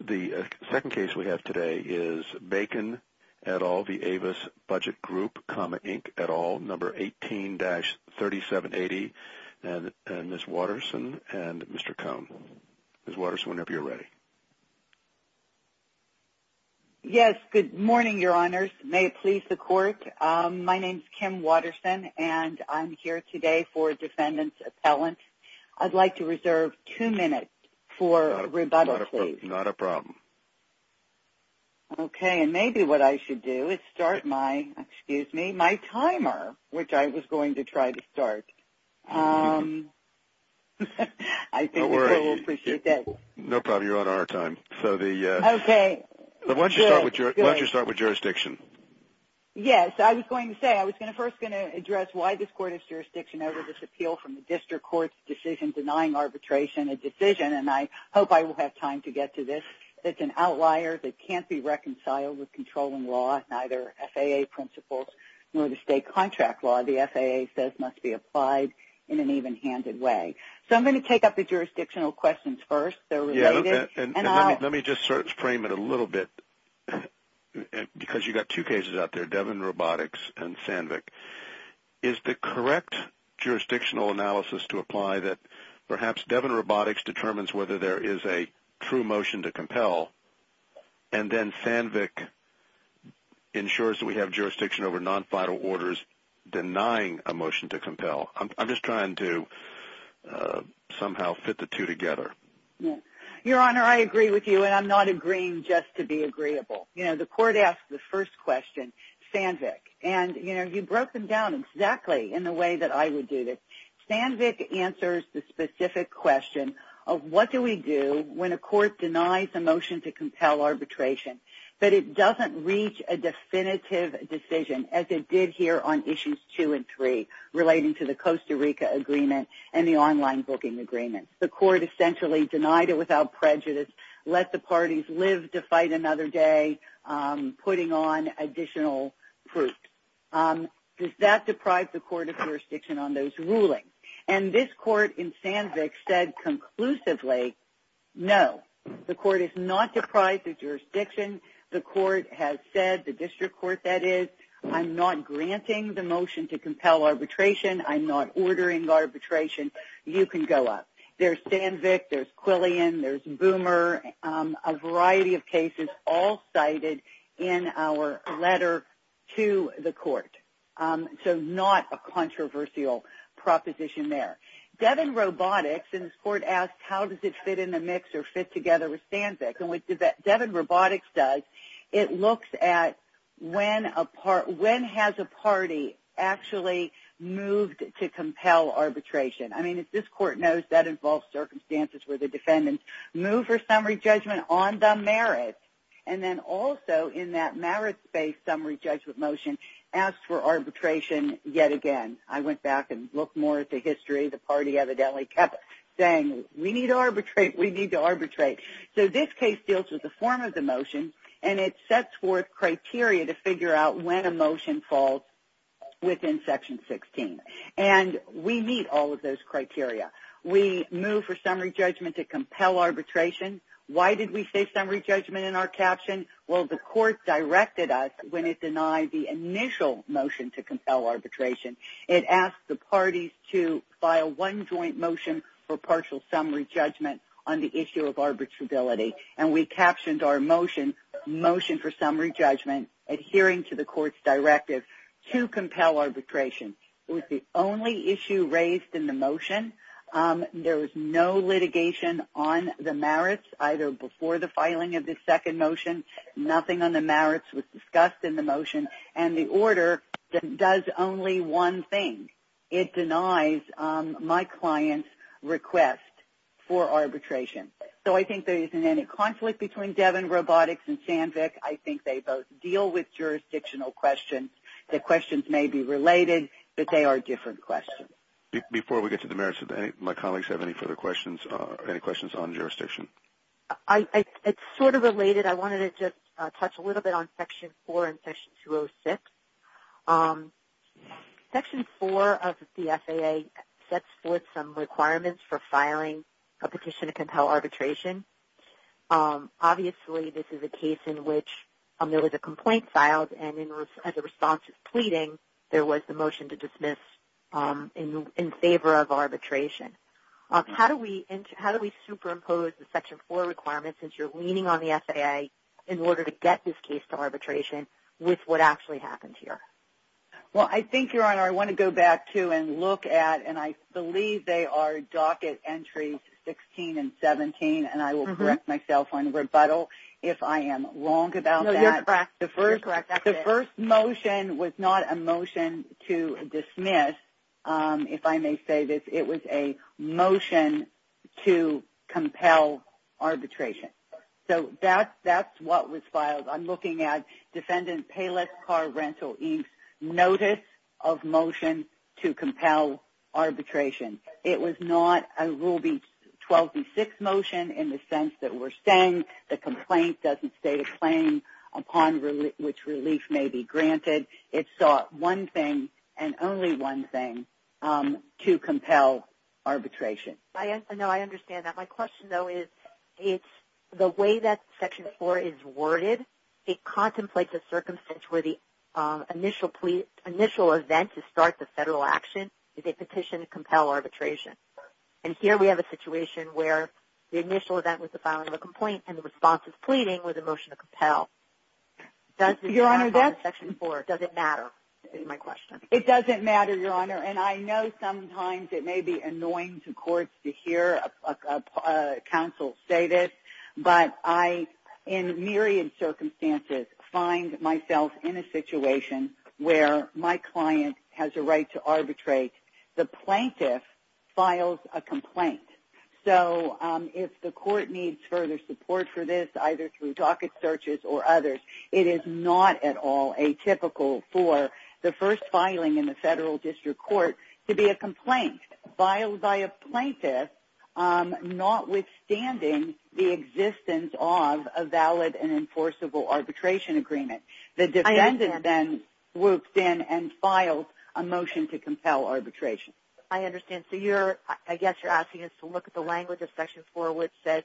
The second case we have today is Bacon et al. v. Avis Budget Group, Inc. et al. No. 18-3780 and Ms. Waterson and Mr. Cohn. Ms. Waterson, whenever you're ready. Yes. Good morning, Your Honors. May it please the Court. My name is Kim Waterson and I'm here today for defendant's appellant. I'd like to reserve two minutes for rebuttal, please. Not a problem. Okay. And maybe what I should do is start my timer, which I was going to try to start. I think the Court will appreciate that. No problem. You're on our time. Okay. Good. Why don't you start with jurisdiction? Yes. I was going to say, I was first going to address why this Court has jurisdiction over this appeal from the District Court's decision denying arbitration, a decision, and I hope I will have time to get to this. It's an outlier that can't be reconciled with controlling law, neither FAA principles nor the state contract law. The FAA says must be applied in an even-handed way. So I'm going to take up the jurisdictional questions first. They're related. Let me just frame it a little bit because you've got two cases out there, Devon Robotics and Sandvik. Is the correct jurisdictional analysis to apply that perhaps Devon Robotics determines whether there is a true motion to compel and then Sandvik ensures that we have jurisdiction over non-final orders denying a motion to compel? I'm just trying to somehow fit the two together. Your Honor, I agree with you and I'm not agreeing just to be agreeable. The Court asked the first question, Sandvik, and you broke them down exactly in the way that I would do this. Sandvik answers the specific question of what do we do when a court denies a motion to compel arbitration, but it doesn't reach a definitive decision as it did here on Issues 2 and 3 relating to the Costa Rica agreement and the online booking agreement. The Court essentially denied it without prejudice, let the parties live to fight another day, putting on additional proof. Does that deprive the Court of jurisdiction on those rulings? And this Court in Sandvik said conclusively, no. The Court has not deprived the jurisdiction. The Court has said, the district court that is, I'm not granting the motion to compel arbitration. I'm not ordering arbitration. You can go up. There's Sandvik, there's Quillian, there's Boomer, a variety of cases all cited in our letter to the Court. So not a controversial proposition there. Devin Robotics in this Court asked how does it fit in the mix or fit together with Sandvik. And what Devin Robotics does, it looks at when has a party actually moved to compel arbitration. I mean, as this Court knows, that involves circumstances where the defendants move for summary judgment on the merits. And then also in that merits-based summary judgment motion, asks for arbitration yet again. I went back and looked more at the history. The party evidently kept saying, we need to arbitrate, we need to arbitrate. So this case deals with the form of the motion, and it sets forth criteria to figure out when a motion falls within Section 16. And we meet all of those criteria. We move for summary judgment to compel arbitration. Why did we say summary judgment in our caption? Well, the Court directed us when it denied the initial motion to compel arbitration. It asked the parties to file one joint motion for partial summary judgment on the issue of arbitrability. And we captioned our motion, motion for summary judgment, adhering to the Court's directive to compel arbitration. It was the only issue raised in the motion. There was no litigation on the merits, either before the filing of this second motion. Nothing on the merits was discussed in the motion. And the order does only one thing. It denies my client's request for arbitration. So I think there isn't any conflict between Devon Robotics and Sandvik. I think they both deal with jurisdictional questions. The questions may be related, but they are different questions. Before we get to the merits, do my colleagues have any further questions, any questions on jurisdiction? It's sort of related. I wanted to just touch a little bit on Section 4 and Section 206. Section 4 of the FAA sets forth some requirements for filing a petition to compel arbitration. Obviously, this is a case in which there was a complaint filed, and as a response to pleading, there was the motion to dismiss in favor of arbitration. How do we superimpose the Section 4 requirements, since you're leaning on the FAA, in order to get this case to arbitration with what actually happened here? Well, I think, Your Honor, I want to go back to and look at, and I believe they are docket entries 16 and 17, and I will correct myself on rebuttal if I am wrong about that. No, you're correct. The first motion was not a motion to dismiss, if I may say this. It was a motion to compel arbitration. So that's what was filed. I'm looking at Defendant Payless Car Rental, Inc.'s notice of motion to compel arbitration. It was not a Rule 12b6 motion in the sense that we're saying the complaint doesn't state a claim upon which relief may be granted. It sought one thing and only one thing to compel arbitration. No, I understand that. My question, though, is the way that Section 4 is worded, it contemplates a circumstance where the initial event to start the federal action is a petition to compel arbitration. And here we have a situation where the initial event was the filing of a complaint and the response of pleading was a motion to compel. Your Honor, that's – Does it matter is my question. It doesn't matter, Your Honor. And I know sometimes it may be annoying to courts to hear a counsel say this, but I, in myriad circumstances, find myself in a situation where my client has a right to arbitrate. The plaintiff files a complaint. So if the court needs further support for this, either through docket searches or others, it is not at all atypical for the first filing in the federal district court to be a complaint filed by a plaintiff notwithstanding the existence of a valid and enforceable arbitration agreement. The defendant then whooped in and filed a motion to compel arbitration. I understand. So you're – I guess you're asking us to look at the language of Section 4, which says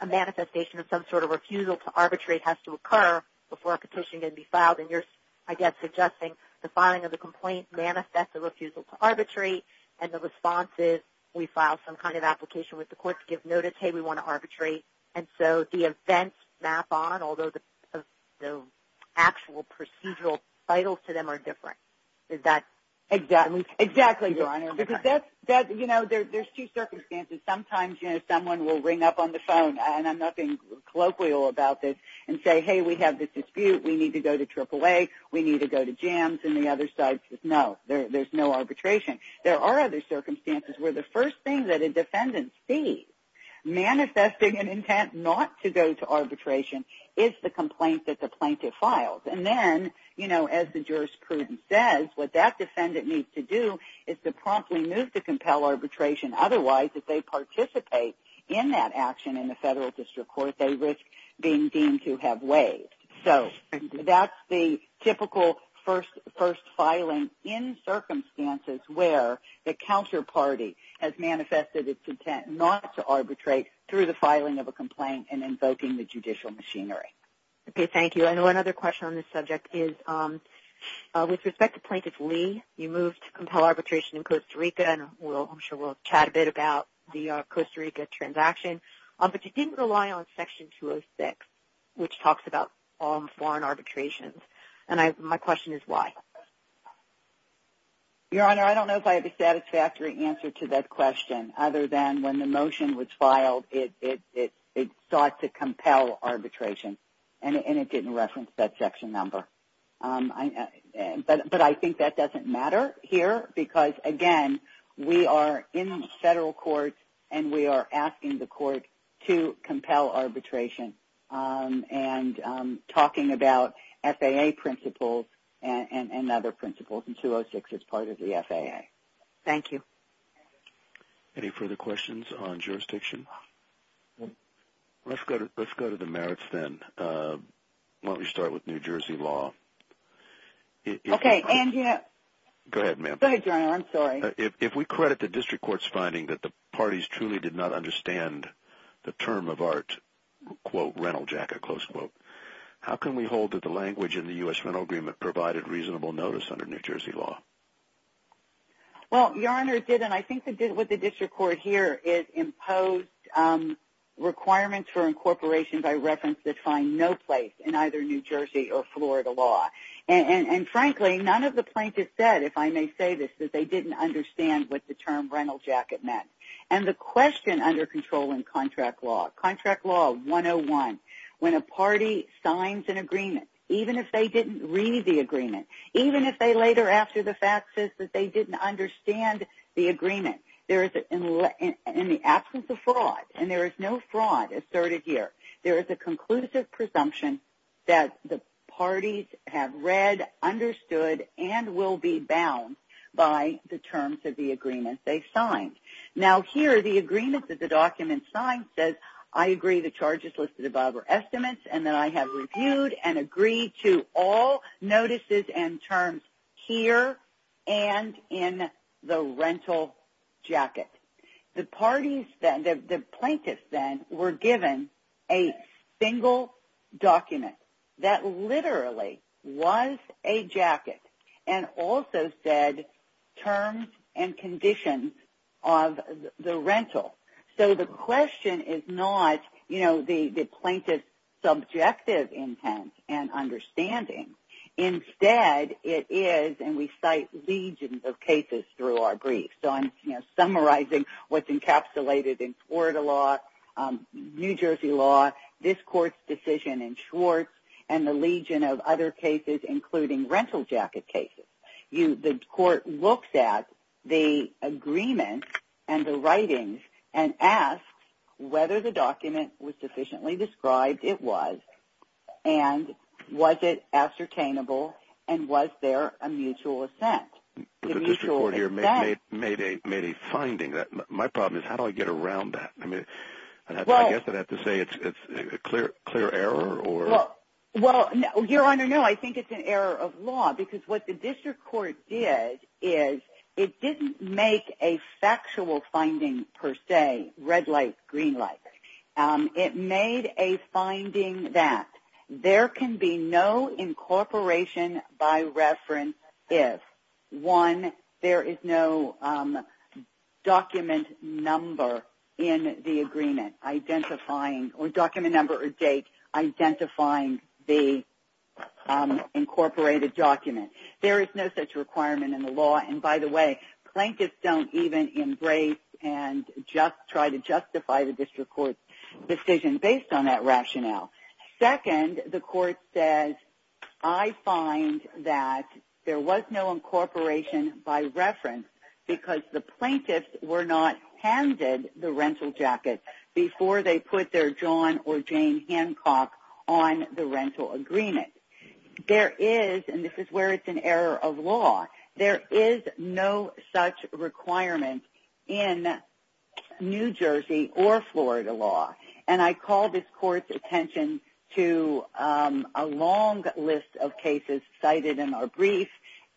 a manifestation of some sort of refusal to arbitrate has to occur before a petition can be filed. And you're, I guess, suggesting the filing of the complaint manifests a refusal to arbitrate and the response is we file some kind of application with the court to give notice, hey, we want to arbitrate. And so the events map on, although the actual procedural titles to them are different. Is that – Exactly. Exactly, Your Honor. Because that's – you know, there's two circumstances. Sometimes, you know, someone will ring up on the phone, and I'm not being colloquial about this, and say, hey, we have this dispute, we need to go to AAA, we need to go to JAMS, and the other side says, no, there's no arbitration. There are other circumstances where the first thing that a defendant sees manifesting an intent not to go to arbitration is the complaint that the plaintiff files. And then, you know, as the jurisprudence says, what that defendant needs to do is to promptly move to compel arbitration. Otherwise, if they participate in that action in the federal district court, they risk being deemed to have waived. So that's the typical first filing in circumstances where the counterparty has manifested its intent not to arbitrate through the filing of a complaint and invoking the judicial machinery. Okay, thank you. And one other question on this subject is with respect to Plaintiff Lee, you moved to compel arbitration in Costa Rica, and I'm sure we'll chat a bit about the Costa Rica transaction, but you didn't rely on Section 206, which talks about foreign arbitrations. And my question is why? Your Honor, I don't know if I have a satisfactory answer to that question, other than when the motion was filed, it sought to compel arbitration, and it didn't reference that section number. But I think that doesn't matter here because, again, we are in federal court and we are asking the court to compel arbitration and talking about FAA principles and other principles in 206 as part of the FAA. Thank you. Any further questions on jurisdiction? Let's go to the merits then. Let me start with New Jersey law. Okay. Go ahead, ma'am. Go ahead, Your Honor. I'm sorry. If we credit the district court's finding that the parties truly did not understand the term of art, quote, rental jacket, close quote, how can we hold that the language in the U.S. rental agreement provided reasonable notice under New Jersey law? Well, Your Honor, it did, and I think it did with the district court here. It imposed requirements for incorporation by reference that find no place in either New Jersey or Florida law. And, frankly, none of the plaintiffs said, if I may say this, that they didn't understand what the term rental jacket meant. And the question under control in contract law, contract law 101, when a party signs an agreement, even if they didn't read the agreement, even if they later, after the fact, says that they didn't understand the agreement. There is, in the absence of fraud, and there is no fraud asserted here, there is a conclusive presumption that the parties have read, understood, and will be bound by the terms of the agreement they signed. Now, here, the agreement that the document signs says, I agree the charges listed above are estimates and that I have reviewed and agreed to all notices and terms here and in the rental jacket. The parties then, the plaintiffs then, were given a single document that literally was a jacket and also said terms and conditions of the rental. So the question is not, you know, the plaintiff's subjective intent and understanding. Instead, it is, and we cite legions of cases through our briefs. So I'm summarizing what's encapsulated in Florida law, New Jersey law, this court's decision in Schwartz, and the legion of other cases, including rental jacket cases. The court looks at the agreement and the writings and asks whether the document was sufficiently described. It was. And was it ascertainable, and was there a mutual assent? The mutual assent. The district court here made a finding. My problem is, how do I get around that? I mean, I guess I'd have to say it's a clear error. Well, Your Honor, no, I think it's an error of law because what the district court did is it didn't make a factual finding per se, red light, green light. It made a finding that there can be no incorporation by reference if, one, there is no document number in the agreement identifying, or document number or date, identifying the incorporated document. There is no such requirement in the law, and by the way, plaintiffs don't even embrace and just try to justify the district court's decision based on that rationale. Second, the court says, I find that there was no incorporation by reference because the plaintiffs were not handed the rental jacket before they put their John or Jane Hancock on the rental agreement. There is, and this is where it's an error of law, there is no such requirement in New Jersey or Florida law, and I call this court's attention to a long list of cases cited in our brief,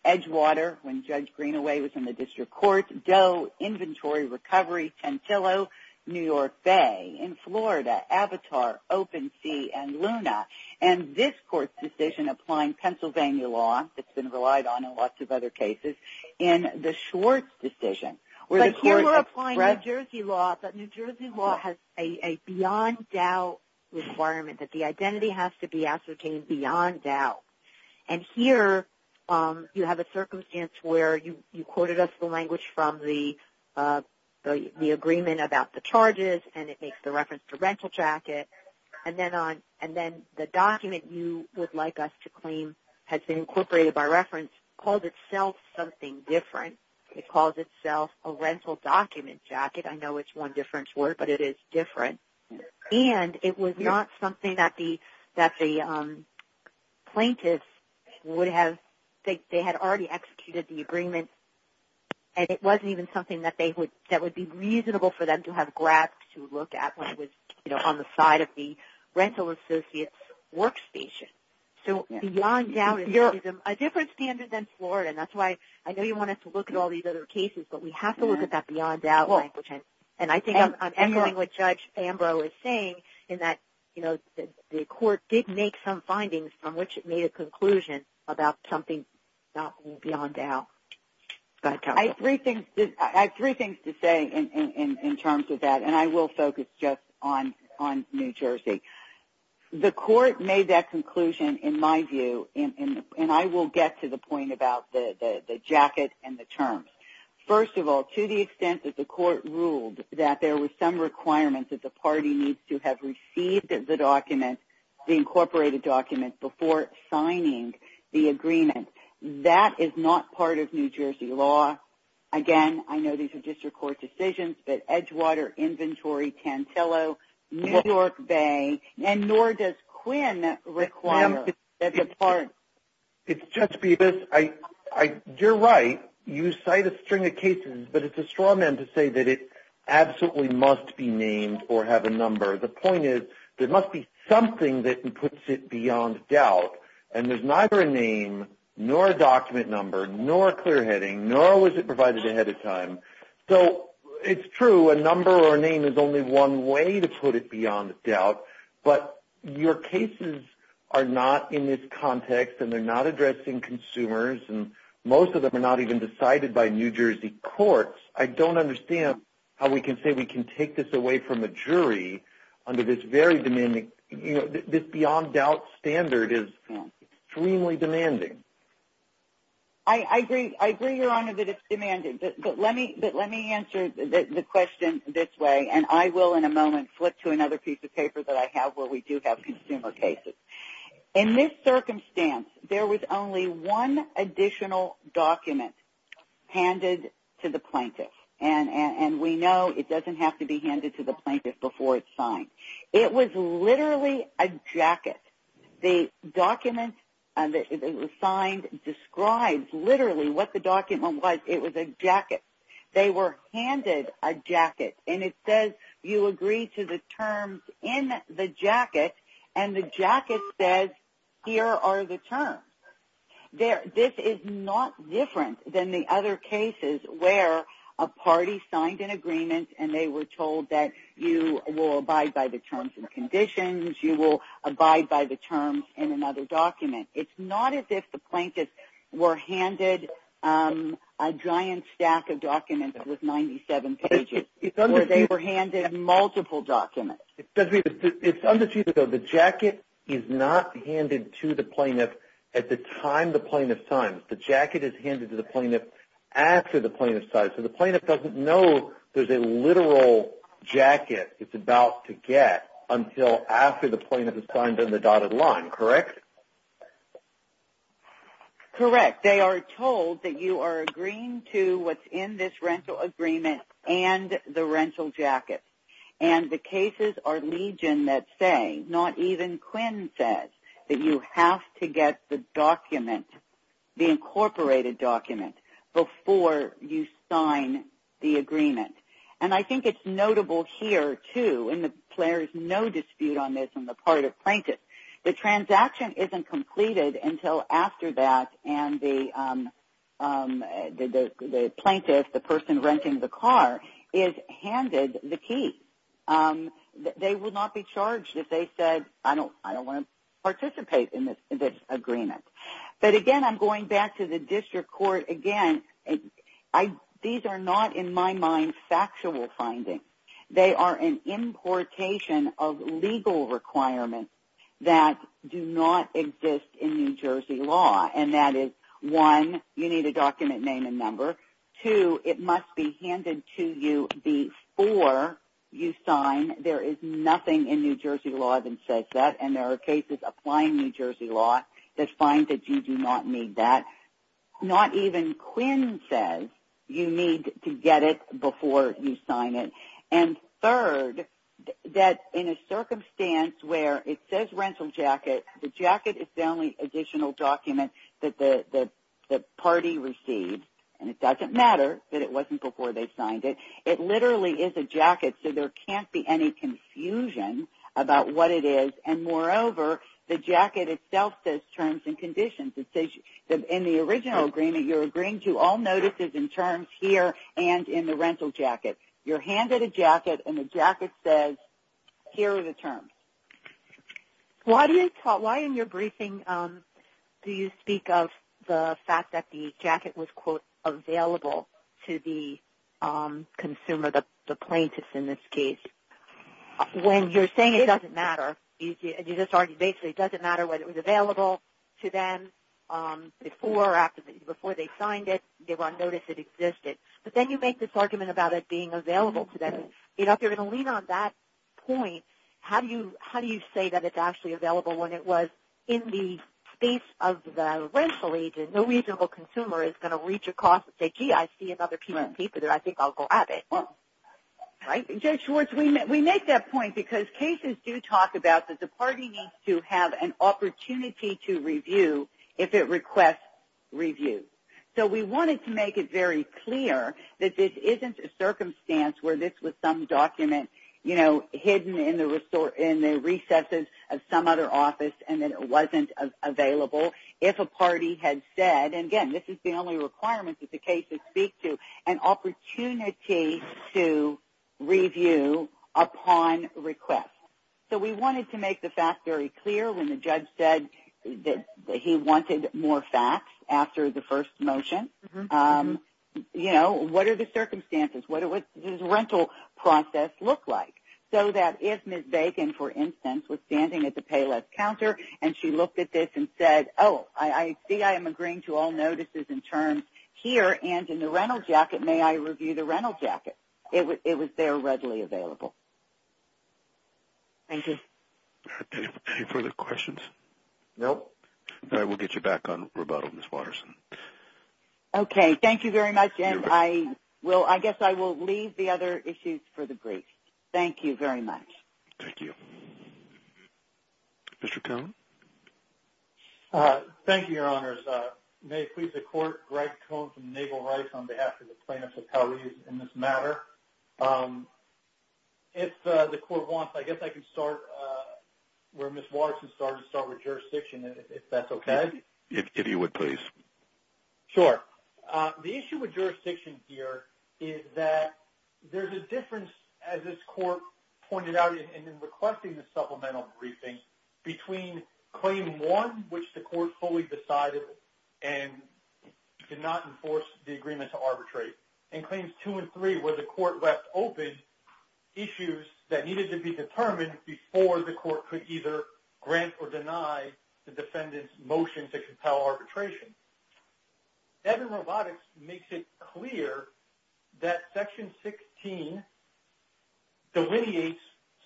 Edgewater, when Judge Greenaway was in the district court, Doe, inventory, recovery, Tantillo, New York Bay, in Florida, Avatar, Open Sea, and Luna, and this court's decision applying Pennsylvania law, that's been relied on in lots of other cases, in the Schwartz decision. But here we're applying New Jersey law, but New Jersey law has a beyond doubt requirement, that the identity has to be ascertained beyond doubt, and here you have a circumstance where you quoted us the language from the agreement about the charges, and it makes the reference to rental jacket, and then the document you would like us to claim has been incorporated by reference and has called itself something different. It calls itself a rental document jacket. I know it's one different word, but it is different, and it was not something that the plaintiff would have, they had already executed the agreement, and it wasn't even something that would be reasonable for them to have grabbed to look at when it was on the side of the rental associate's workstation. So beyond doubt is a different standard than Florida, and that's why I know you want us to look at all these other cases, but we have to look at that beyond doubt language, and I think I'm echoing what Judge Ambrose is saying in that the court did make some findings from which it made a conclusion about something beyond doubt. I have three things to say in terms of that, and I will focus just on New Jersey. The court made that conclusion, in my view, and I will get to the point about the jacket and the terms. First of all, to the extent that the court ruled that there were some requirements that the party needs to have received the document, the incorporated document, before signing the agreement, that is not part of New Jersey law. Again, I know these are district court decisions, but Edgewater, Inventory, Tantillo, New York Bay, and nor does Quinn require that the party... Judge Bevis, you're right. You cite a string of cases, but it's a straw man to say that it absolutely must be named or have a number. The point is there must be something that puts it beyond doubt, and there's neither a name, nor a document number, nor a clear heading, nor was it provided ahead of time. So it's true, a number or a name is only one way to put it beyond doubt, but your cases are not in this context, and they're not addressing consumers, and most of them are not even decided by New Jersey courts. I don't understand how we can say we can take this away from a jury under this very demanding... under this extremely demanding... I agree, Your Honor, that it's demanding, but let me answer the question this way, and I will in a moment flip to another piece of paper that I have where we do have consumer cases. In this circumstance, there was only one additional document handed to the plaintiff, and we know it doesn't have to be handed to the plaintiff before it's signed. It was literally a jacket. The document that was signed describes literally what the document was. It was a jacket. They were handed a jacket, and it says you agree to the terms in the jacket, and the jacket says here are the terms. This is not different than the other cases where a party signed an agreement and they were told that you will abide by the terms and conditions. You will abide by the terms in another document. It's not as if the plaintiffs were handed a giant stack of documents with 97 pages where they were handed multiple documents. It's understated, though. The jacket is not handed to the plaintiff at the time the plaintiff signs. The jacket is handed to the plaintiff after the plaintiff signs. So the plaintiff doesn't know there's a literal jacket it's about to get until after the plaintiff has signed on the dotted line, correct? Correct. They are told that you are agreeing to what's in this rental agreement and the rental jacket, and the cases are legion that say, not even Quinn says, that you have to get the document, the incorporated document, before you sign the agreement. And I think it's notable here, too, and there's no dispute on this on the part of plaintiffs, the transaction isn't completed until after that and the plaintiff, the person renting the car, is handed the key. They would not be charged if they said, I don't want to participate in this agreement. But, again, I'm going back to the district court. Again, these are not, in my mind, factual findings. They are an importation of legal requirements that do not exist in New Jersey law, and that is, one, you need a document name and number. Two, it must be handed to you before you sign. There is nothing in New Jersey law that says that, and there are cases applying New Jersey law that find that you do not need that. Not even Quinn says you need to get it before you sign it. And third, that in a circumstance where it says rental jacket, the jacket is the only additional document that the party received, and it doesn't matter that it wasn't before they signed it. It literally is a jacket, so there can't be any confusion about what it is. And, moreover, the jacket itself says terms and conditions. In the original agreement, you're agreeing to all notices and terms here and in the rental jacket. You're handed a jacket, and the jacket says here are the terms. Why in your briefing do you speak of the fact that the jacket was, quote, available to the consumer, the plaintiff in this case? When you're saying it doesn't matter, you just argue basically it doesn't matter whether it was available to them before they signed it, they were on notice it existed. But then you make this argument about it being available to them. If you're going to lean on that point, how do you say that it's actually available when it was in the space of the rental agent? No reasonable consumer is going to reach across and say, gee, I see another piece of paper there. I think I'll go at it. Judge Schwartz, we make that point because cases do talk about that the party needs to have an opportunity to review if it requests review. So we wanted to make it very clear that this isn't a circumstance where this was some document, you know, hidden in the recesses of some other office and that it wasn't available. If a party had said, and again, this is the only requirement that the cases speak to, an opportunity to review upon request. So we wanted to make the fact very clear when the judge said that he wanted more facts after the first motion. You know, what are the circumstances? What does the rental process look like? So that if Ms. Bacon, for instance, was standing at the payless counter and she looked at this and said, oh, I see I am agreeing to all notices and terms here and in the rental jacket, may I review the rental jacket? It was there readily available. Thank you. Any further questions? No. All right. We'll get you back on rebuttal, Ms. Watterson. Okay. Thank you very much. And I guess I will leave the other issues for the brief. Thank you very much. Thank you. Mr. Cohn. Thank you, Your Honors. May it please the Court, Greg Cohn from Naval Rights on behalf of the plaintiffs of Cali in this matter. If the Court wants, I guess I can start where Ms. Watterson started, start with jurisdiction, if that's okay. If you would, please. Sure. The issue with jurisdiction here is that there's a difference, as this Court pointed out in requesting the supplemental briefings, between Claim 1, which the Court fully decided and did not enforce the agreement to arbitrate, and Claims 2 and 3, where the Court left open issues that needed to be determined before the Court could either grant or deny the defendant's motion to compel arbitration. Evan Robotics makes it clear that Section 16 delineates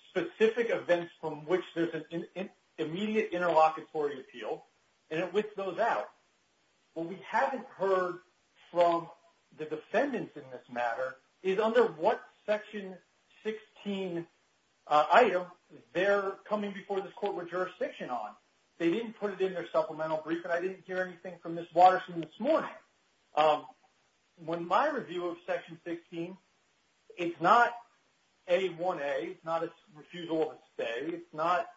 specific events from which there's an immediate interlocutory appeal and it whits those out. What we haven't heard from the defendants in this matter is under what Section 16 item they're coming before this Court with jurisdiction on. They didn't put it in their supplemental briefing. I didn't hear anything from Ms. Watterson this morning. When my review of Section 16, it's not A1A, it's not a refusal of a stay. It's not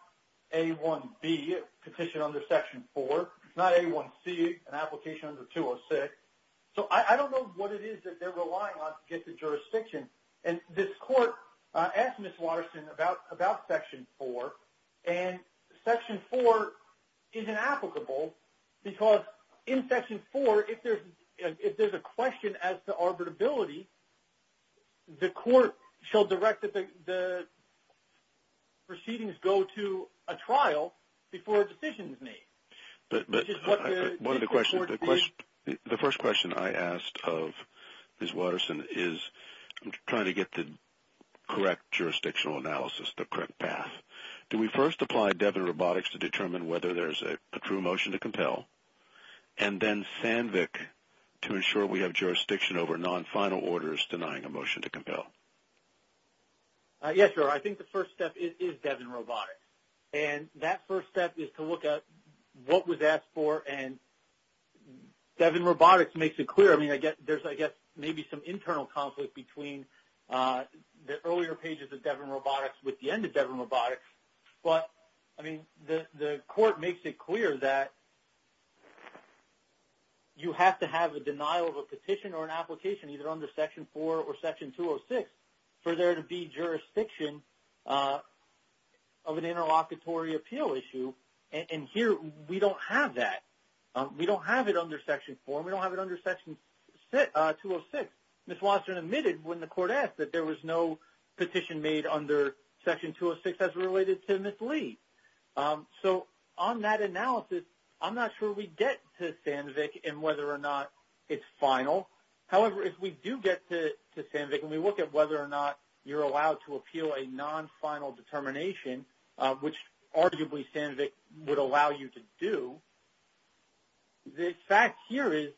A1B, a petition under Section 4. It's not A1C, an application under 206. So I don't know what it is that they're relying on to get to jurisdiction. And this Court asked Ms. Watterson about Section 4, and Section 4 is inapplicable because in Section 4, if there's a question as to arbitrability, the Court shall direct that the proceedings go to a trial before a decision is made. One of the questions, the first question I asked of Ms. Watterson is trying to get the correct jurisdictional analysis, the correct path. Do we first apply Devin Robotics to determine whether there's a true motion to compel, and then SANVIC to ensure we have jurisdiction over non-final orders denying a motion to compel? Yes, sir. I think the first step is Devin Robotics. And that first step is to look at what was asked for, and Devin Robotics makes it clear. I mean, there's, I guess, maybe some internal conflict between the earlier pages of Devin Robotics with the end of Devin Robotics. But, I mean, the Court makes it clear that you have to have a denial of a petition or an application, either under Section 4 or Section 206, for there to be jurisdiction of an interlocutory appeal issue. And here, we don't have that. We don't have it under Section 4, and we don't have it under Section 206. Ms. Watterson admitted when the Court asked that there was no petition made under Section 206 as related to Ms. Lee. So, on that analysis, I'm not sure we get to SANVIC and whether or not it's final. However, if we do get to SANVIC and we look at whether or not you're allowed to appeal a non-final determination, which arguably SANVIC would allow you to do, the fact here is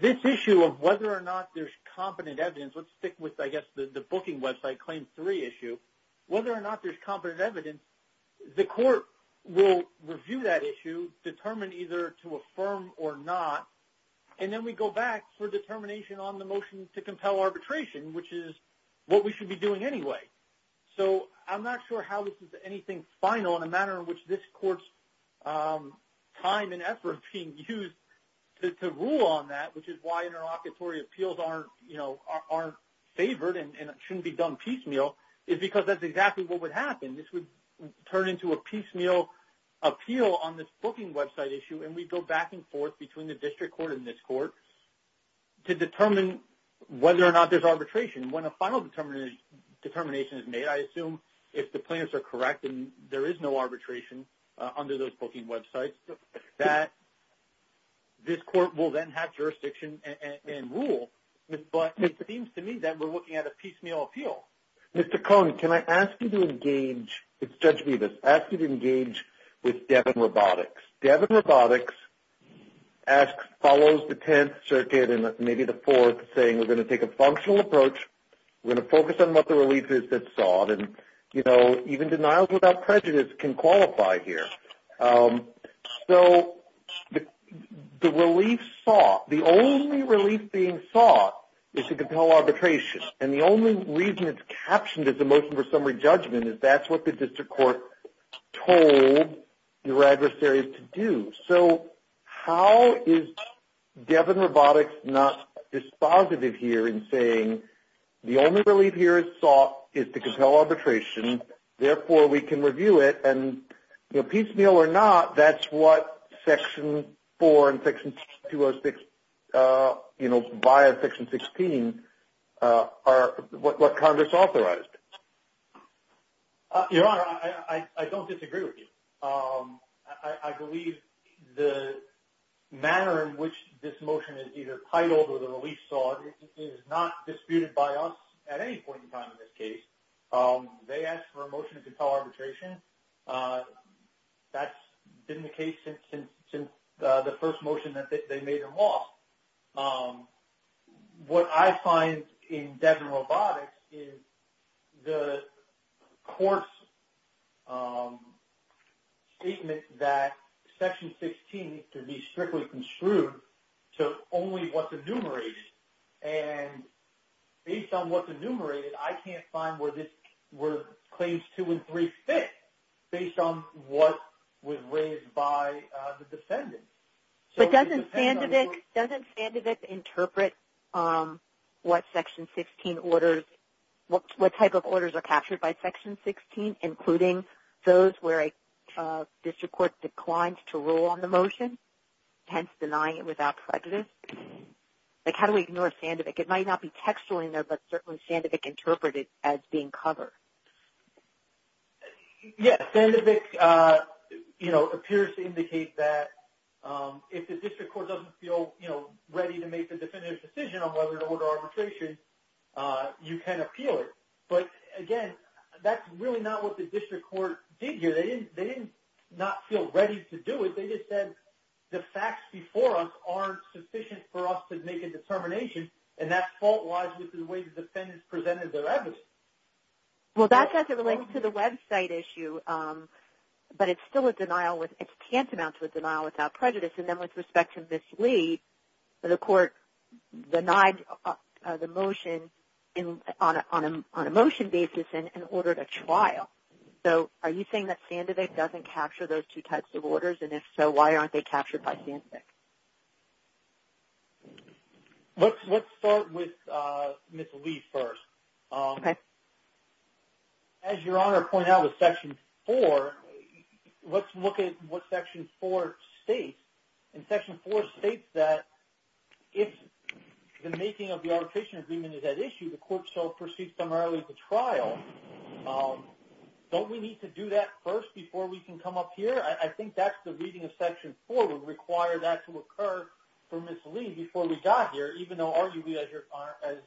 this issue of whether or not there's competent evidence, let's stick with, I guess, the booking website Claim 3 issue, whether or not there's competent evidence, the Court will review that issue, determine either to affirm or not, and then we go back for determination on the motion to compel arbitration, which is what we should be doing anyway. So, I'm not sure how this is anything final in a manner in which this Court's time and effort being used to rule on that, which is why interlocutory appeals aren't favored and shouldn't be done piecemeal, is because that's exactly what would happen. This would turn into a piecemeal appeal on this booking website issue, and we go back and forth between the District Court and this Court to determine whether or not there's arbitration. When a final determination is made, I assume, if the plaintiffs are correct and there is no arbitration under those booking websites, that this Court will then have jurisdiction and rule, but it seems to me that we're looking at a piecemeal appeal. Mr. Cohn, can I ask you to engage – it's Judge Rivas – ask you to engage with Devin Robotics. Devin Robotics follows the Tenth Circuit and maybe the Fourth saying, we're going to take a functional approach, we're going to focus on what the relief is that's sought, and, you know, even denials without prejudice can qualify here. So, the relief sought – the only relief being sought is to compel arbitration, and the only reason it's captioned as a motion for summary judgment is that's what the District Court told your adversaries to do. So, how is Devin Robotics not dispositive here in saying, the only relief here is sought is to compel arbitration, therefore we can review it, and, you know, piecemeal or not, that's what Section 4 and Section 206, you know, via Section 16 are – what Congress authorized. Your Honor, I don't disagree with you. I believe the manner in which this motion is either titled or the relief sought is not disputed by us at any point in time in this case. They asked for a motion to compel arbitration. That's been the case since the first motion that they made in law. What I find in Devin Robotics is the court's statement that Section 16 needs to be strictly construed to only what's enumerated, and based on what's enumerated, I can't find where Claims 2 and 3 fit based on what was raised by the defendants. But doesn't Sandovic interpret what Section 16 orders – what type of orders are captured by Section 16, including those where a district court declines to rule on the motion, hence denying it without prejudice? Like, how do we ignore Sandovic? It might not be textual in there, but certainly Sandovic interpreted as being covered. Yes, Sandovic, you know, appears to indicate that if the district court doesn't feel, you know, ready to make a definitive decision on whether to order arbitration, you can appeal it. But, again, that's really not what the district court did here. They didn't not feel ready to do it. They just said the facts before us aren't sufficient for us to make a determination, and that fault lies with the way the defendants presented their evidence. Well, that has to relate to the website issue, but it's still a denial with – it's tantamount to a denial without prejudice. And then with respect to Ms. Lee, the court denied the motion on a motion basis and ordered a trial. So, are you saying that Sandovic doesn't capture those two types of orders? And if so, why aren't they captured by Sandovic? Let's start with Ms. Lee first. Okay. As Your Honor pointed out with Section 4, let's look at what Section 4 states. And Section 4 states that if the making of the arbitration agreement is at issue, the court shall proceed primarily to trial. Don't we need to do that first before we can come up here? I think that's the reading of Section 4 would require that to occur for Ms. Lee before we got here, even though arguably, as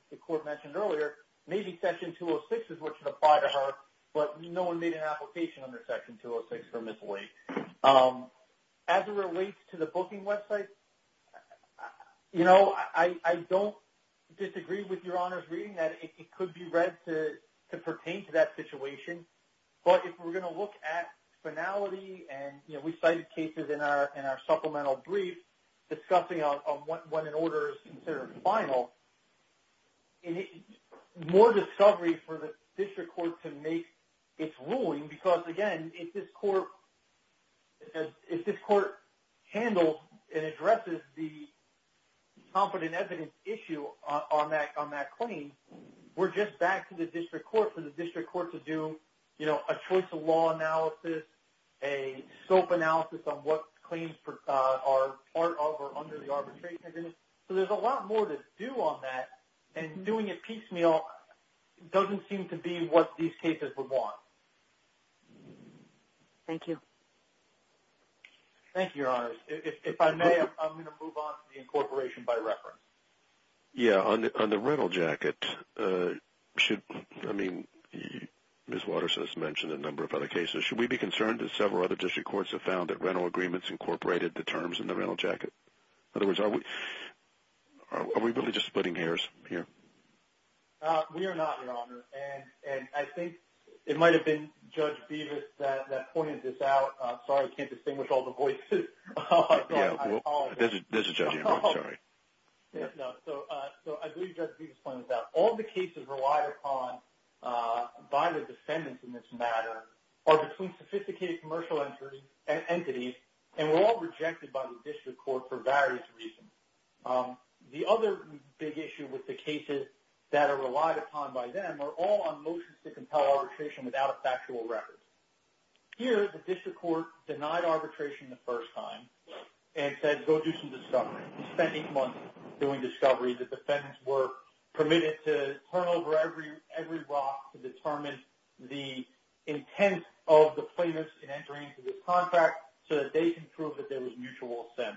the court mentioned earlier, maybe Section 206 is what should apply to her, but no one made an application under Section 206 for Ms. Lee. As it relates to the booking website, you know, I don't disagree with Your Honor's reading that it could be read to pertain to that situation. But if we're going to look at finality and, you know, we cited cases in our supplemental brief discussing when an order is considered final, more discovery for the district court to make its ruling because, again, if this court handles and addresses the competent evidence issue on that claim, we're just back to the district court for the district court to do, you know, a choice of law analysis, a SOAP analysis on what claims are part of or under the arbitration agreement. So there's a lot more to do on that, and doing it piecemeal doesn't seem to be what these cases would want. Thank you. Thank you, Your Honor. If I may, I'm going to move on to the incorporation by reference. Yeah. On the rental jacket, I mean, Ms. Watterson has mentioned a number of other cases. Should we be concerned, as several other district courts have found, that rental agreements incorporated the terms in the rental jacket? In other words, are we really just splitting hairs here? We are not, Your Honor. And I think it might have been Judge Bevis that pointed this out. Sorry, I can't distinguish all the voices. There's a judge in there. I'm sorry. So I believe Judge Bevis pointed this out. All the cases relied upon by the defendants in this matter are between sophisticated commercial entities, and were all rejected by the district court for various reasons. The other big issue with the cases that are relied upon by them are all on motions to compel arbitration without a factual record. Here, the district court denied arbitration the first time and said, go do some discovery. We spent eight months doing discovery. The defendants were permitted to turn over every rock to determine the intent of the plaintiffs in entering into this contract so that they can prove that there was mutual assent.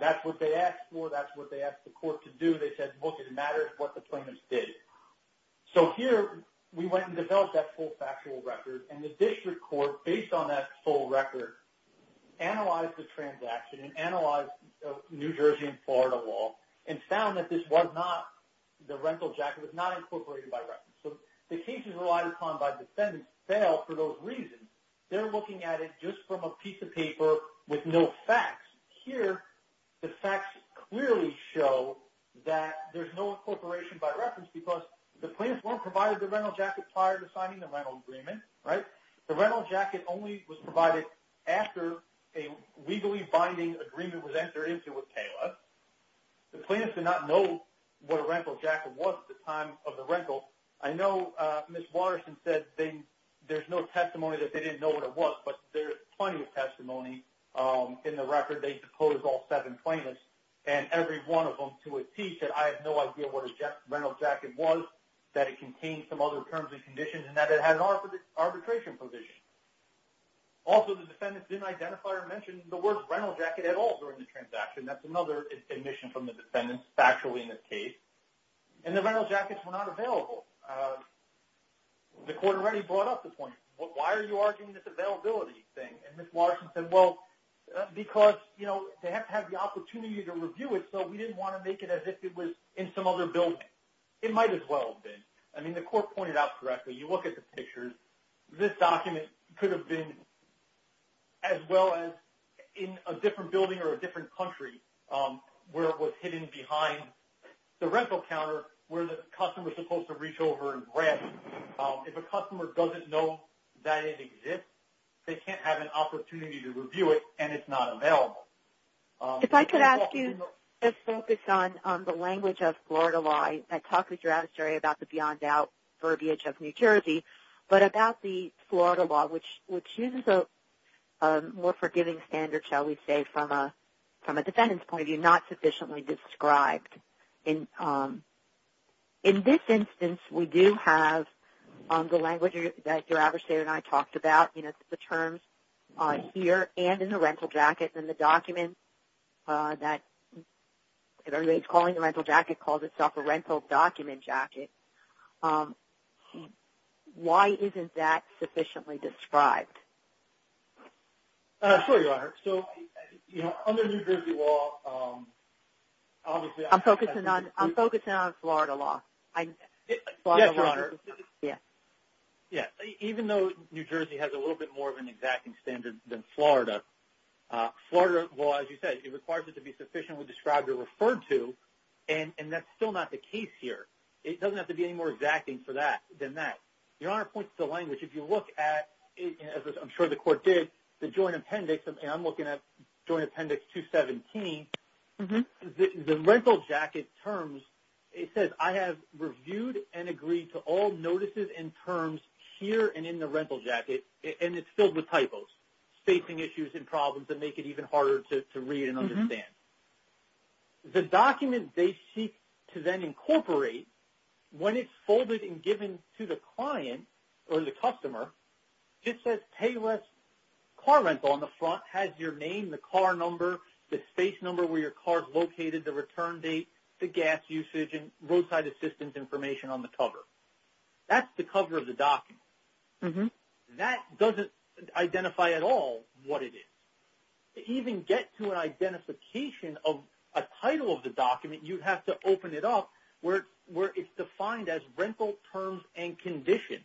That's what they asked for. That's what they asked the court to do. They said, look, it matters what the plaintiffs did. So here, we went and developed that full factual record, and the district court, based on that full record, analyzed the transaction, and analyzed the New Jersey and Florida law, and found that the rental jacket was not incorporated by reference. So the cases relied upon by defendants failed for those reasons. They're looking at it just from a piece of paper with no facts. Here, the facts clearly show that there's no incorporation by reference because the plaintiffs weren't provided the rental jacket prior to signing the rental agreement, right? The rental jacket only was provided after a legally binding agreement was entered into with Taylor. The plaintiffs did not know what a rental jacket was at the time of the rental. I know Ms. Watterson said there's no testimony that they didn't know what it was, but there's plenty of testimony in the record. They suppose all seven plaintiffs, and every one of them to a T, said I have no idea what a rental jacket was, that it contained some other terms and conditions, and that it had an arbitration provision. Also, the defendants didn't identify or mention the word rental jacket at all during the transaction. That's another admission from the defendants factually in this case. And the rental jackets were not available. The court already brought up the point, why are you arguing this availability thing? And Ms. Watterson said, well, because they have to have the opportunity to review it, so we didn't want to make it as if it was in some other building. It might as well have been. I mean, the court pointed out correctly, you look at the pictures, this document could have been as well as in a different building or a different country where it was hidden behind the rental counter where the customer is supposed to reach over and grab it. If a customer doesn't know that it exists, they can't have an opportunity to review it, and it's not available. If I could ask you to focus on the language of Florida law. I talked with your attorney about the beyond doubt verbiage of New Jersey, but about the Florida law, which uses a more forgiving standard, shall we say, from a defendant's point of view, not sufficiently described. In this instance, we do have the language that your adversary and I talked about, the terms here and in the rental jacket, and the document that everybody's calling the rental jacket calls itself a rental document jacket. Why isn't that sufficiently described? Sure, Your Honor. So, under New Jersey law, obviously... I'm focusing on Florida law. Yes, Your Honor. Yes. Even though New Jersey has a little bit more of an exacting standard than Florida, Florida law, as you said, it requires it to be sufficiently described or referred to, and that's still not the case here. It doesn't have to be any more exacting than that. Your Honor points to the language. If you look at, as I'm sure the court did, the joint appendix, and I'm looking at Joint Appendix 217, the rental jacket terms, it says, I have reviewed and agreed to all notices and terms here and in the rental jacket, and it's filled with typos, spacing issues and problems that make it even harder to read and understand. The document they seek to then incorporate, when it's folded and given to the client or the customer, it says, Payless Car Rental on the front, has your name, the car number, the space number where your car is located, the return date, the gas usage, and roadside assistance information on the cover. That's the cover of the document. That doesn't identify at all what it is. To even get to an identification of a title of the document, you have to open it up where it's defined as rental terms and conditions.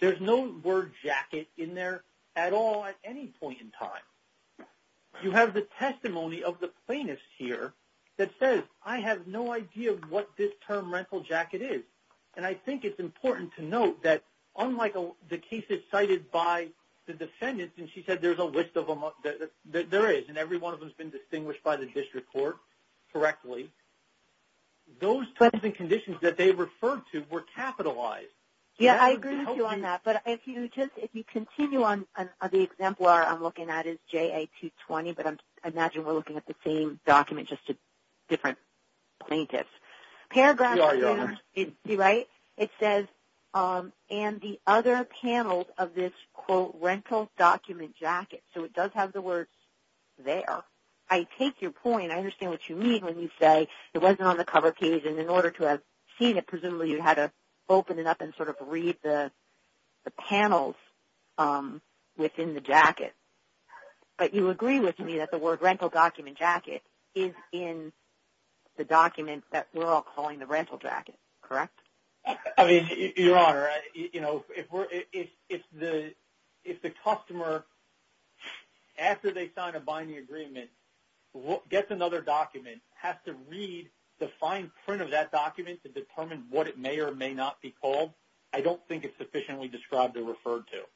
There's no word jacket in there at all at any point in time. You have the testimony of the plaintiff here that says, I have no idea what this term rental jacket is, and I think it's important to note that unlike the cases cited by the defendant, and she said there's a list of them, there is, and every one of them has been distinguished by the district court correctly, those terms and conditions that they referred to were capitalized. Yeah, I agree with you on that. But if you continue on, the example I'm looking at is JA-220, but I imagine we're looking at the same document, just different plaintiffs. You're right. It says, and the other panels of this, quote, rental document jacket. So it does have the words there. I take your point. I understand what you mean when you say it wasn't on the cover page, and in order to have seen it, presumably you had to open it up and sort of read the panels within the jacket. But you agree with me that the word rental document jacket is in the document that we're all calling the rental jacket, correct? Your Honor, if the customer, after they sign a binding agreement, gets another document, has to read the fine print of that document to determine what it may or may not be called, I don't think it's sufficiently described or referred to.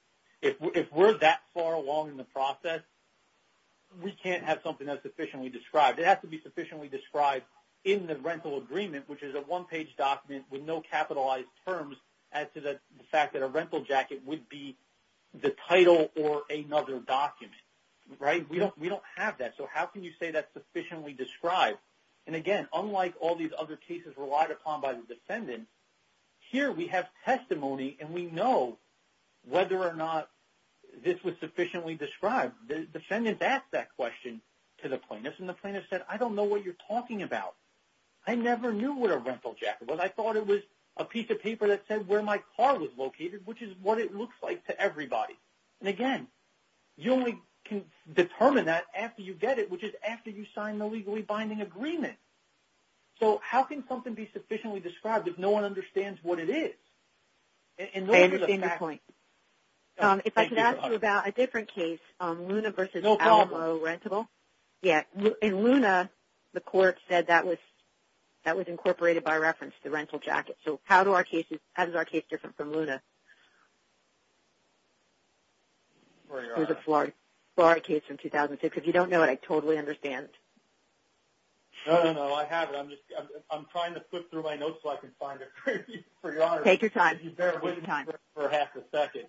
If we're that far along in the process, we can't have something that's sufficiently described. It has to be sufficiently described in the rental agreement, which is a one-page document with no capitalized terms as to the fact that a rental jacket would be the title or another document. Right? We don't have that, so how can you say that's sufficiently described? And, again, unlike all these other cases relied upon by the defendant, here we have testimony and we know whether or not this was sufficiently described. The defendant asked that question to the plaintiff, and the plaintiff said, I don't know what you're talking about. I never knew what a rental jacket was. I thought it was a piece of paper that said where my car was located, which is what it looks like to everybody. And, again, you only can determine that after you get it, which is after you sign the legally binding agreement. So how can something be sufficiently described if no one understands what it is? I understand your point. If I could ask you about a different case, Luna v. Alamo Rentable. In Luna, the court said that was incorporated by reference, the rental jacket. So how is our case different from Luna? It was a Florida case from 2006. If you don't know it, I totally understand. No, no, no, I have it. I'm trying to flip through my notes so I can find it. Take your time. You better wait for half a second.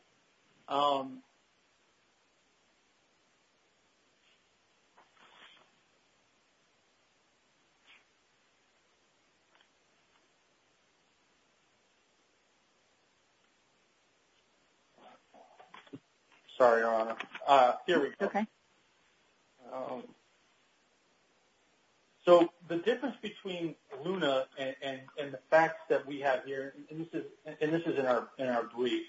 Sorry, Your Honor. Here we go. Okay. So the difference between Luna and the facts that we have here, and this is in our brief,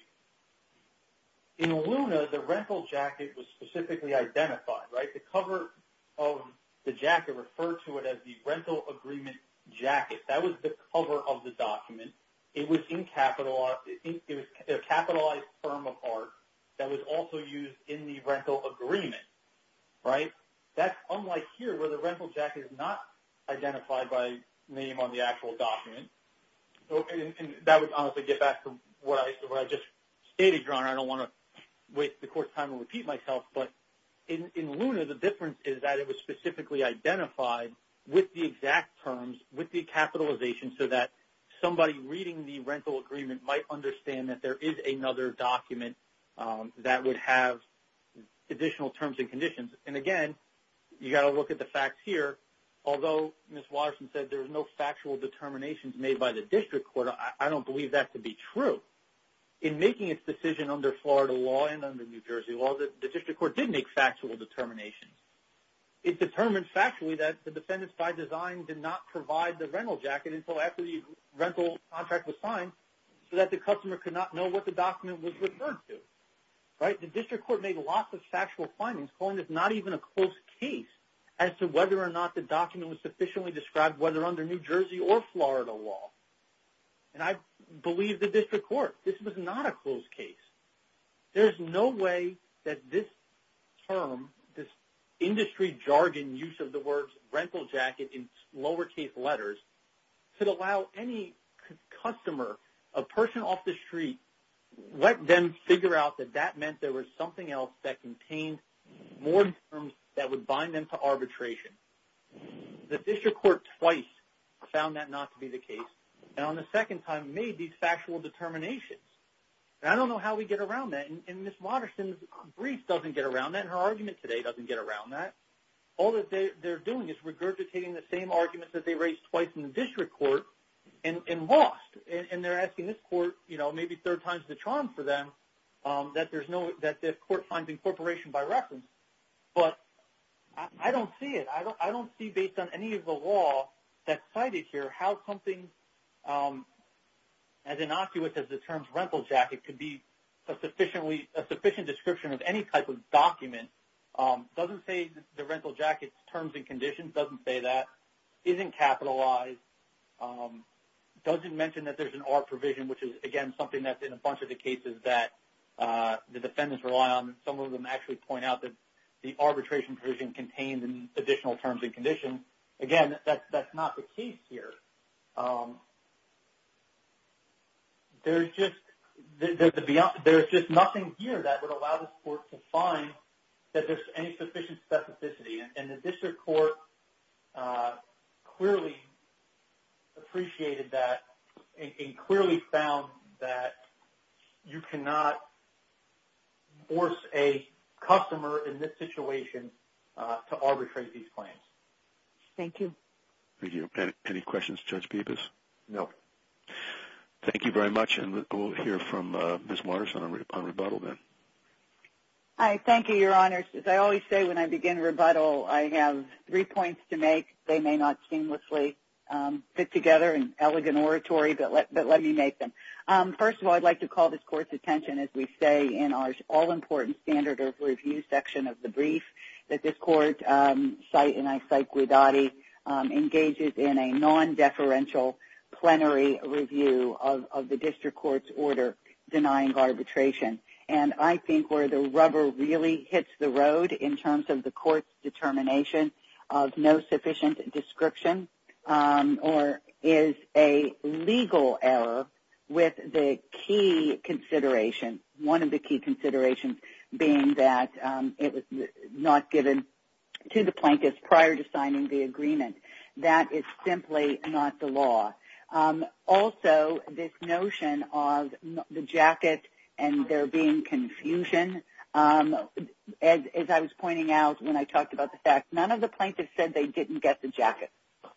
in Luna, the rental jacket was specifically identified, right? The cover of the jacket referred to it as the rental agreement jacket. That was the cover of the document. It was a capitalized form of art that was also used in the rental agreement, right? That's unlike here where the rental jacket is not identified by name on the actual document. And that would honestly get back to what I just stated, Your Honor. I don't want to waste the court's time and repeat myself. But in Luna, the difference is that it was specifically identified with the exact terms, with the capitalization, so that somebody reading the rental agreement might understand that there is another document that would have additional terms and conditions. And again, you've got to look at the facts here. Although Ms. Watterson said there was no factual determinations made by the district court, I don't believe that to be true. In making its decision under Florida law and under New Jersey law, the district court did make factual determinations. It determined factually that the defendants by design did not provide the rental jacket until after the rental contract was signed so that the document was referred to, right? The district court made lots of factual findings, calling this not even a close case as to whether or not the document was sufficiently described, whether under New Jersey or Florida law. And I believe the district court. This was not a close case. There's no way that this term, this industry jargon use of the words rental jacket in lowercase letters, could allow any customer, a person off the street, let them figure out that that meant there was something else that contained more terms that would bind them to arbitration. The district court twice found that not to be the case and on the second time made these factual determinations. And I don't know how we get around that. And Ms. Watterson's brief doesn't get around that and her argument today doesn't get around that. All that they're doing is regurgitating the same arguments that they raised twice in the district court and lost. And they're asking this court, you know, maybe a third time's the charm for them, that this court finds incorporation by reference. But I don't see it. I don't see, based on any of the law that's cited here, how something as innocuous as the term rental jacket could be a sufficient description of any type of document. It doesn't say the rental jacket's terms and conditions, doesn't say that, isn't capitalized, doesn't mention that there's an R provision, which is, again, something that's in a bunch of the cases that the defendants rely on. Some of them actually point out that the arbitration provision contains additional terms and conditions. Again, that's not the case here. There's just nothing here that would allow this court to find that there's any sufficient specificity. And the district court clearly appreciated that and clearly found that you cannot force a customer in this situation to arbitrate these claims. Thank you. Thank you. Any questions of Judge Peebas? No. Thank you very much. And we'll hear from Ms. Waters on rebuttal then. I thank you, Your Honors. As I always say when I begin rebuttal, I have three points to make. They may not seamlessly fit together in elegant oratory, but let me make them. First of all, I'd like to call this court's attention, as we say, in our all-important standard of review section of the brief, that this court, and I cite Guidotti, engages in a non-deferential plenary review of the district court's order denying arbitration. And I think where the rubber really hits the road in terms of the court's determination of no sufficient description or is a legal error with the key consideration, one of the key considerations being that it was not given to the plaintiffs prior to signing the agreement. That is simply not the law. Also, this notion of the jacket and there being confusion, as I was pointing out when I talked about the fact, none of the plaintiffs said they didn't get the jacket.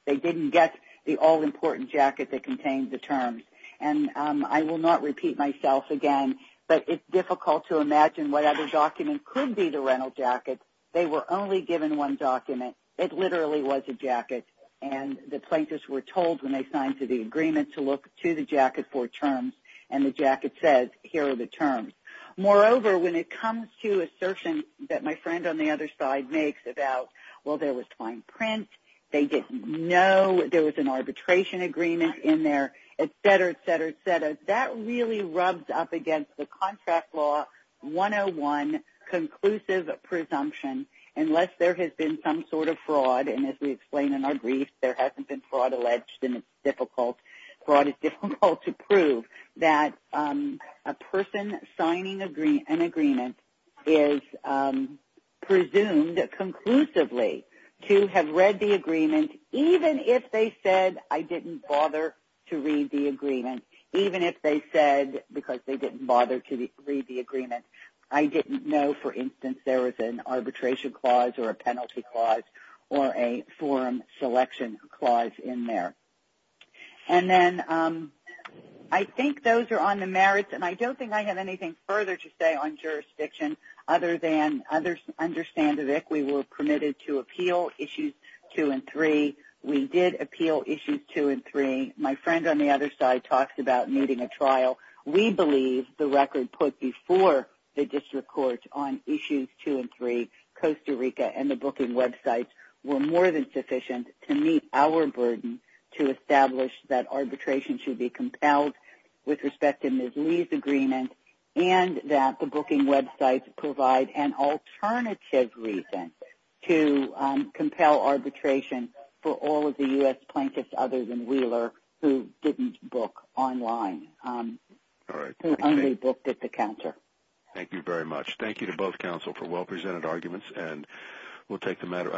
They didn't get the all-important jacket that contained the terms. And I will not repeat myself again, but it's difficult to imagine what other document could be the rental jacket. They were only given one document. It literally was a jacket. And the plaintiffs were told when they signed to the agreement to look to the jacket for terms. And the jacket says, here are the terms. Moreover, when it comes to assertion that my friend on the other side makes about, well, there was fine print, they didn't know there was an arbitration agreement in there, et cetera, et cetera, et cetera, that really rubs up against the contract law 101, conclusive presumption, unless there has been some sort of fraud. And as we explain in our brief, there hasn't been fraud alleged, and it's difficult to prove that a person signing an agreement is presumed conclusively to have read the agreement, even if they said I didn't bother to read the agreement, even if they said because they didn't bother to read the agreement, I didn't know, for instance, there was an arbitration clause or a penalty clause or a forum selection clause in there. And then I think those are on the merits, and I don't think I have anything further to say on jurisdiction other than understand that we were permitted to appeal Issues 2 and 3. We did appeal Issues 2 and 3. My friend on the other side talks about needing a trial. We believe the record put before the district court on Issues 2 and 3, Costa Rica and the booking websites, were more than sufficient to meet our burden to establish that arbitration should be compelled with respect to Ms. Lee's agreement and that the booking websites provide an alternative reason to compel arbitration for all of the U.S. plaintiffs other than Wheeler who didn't book online, who only booked at the counter. Thank you very much. Thank you to both counsel for well-presented arguments, and we'll take the matter under consideration.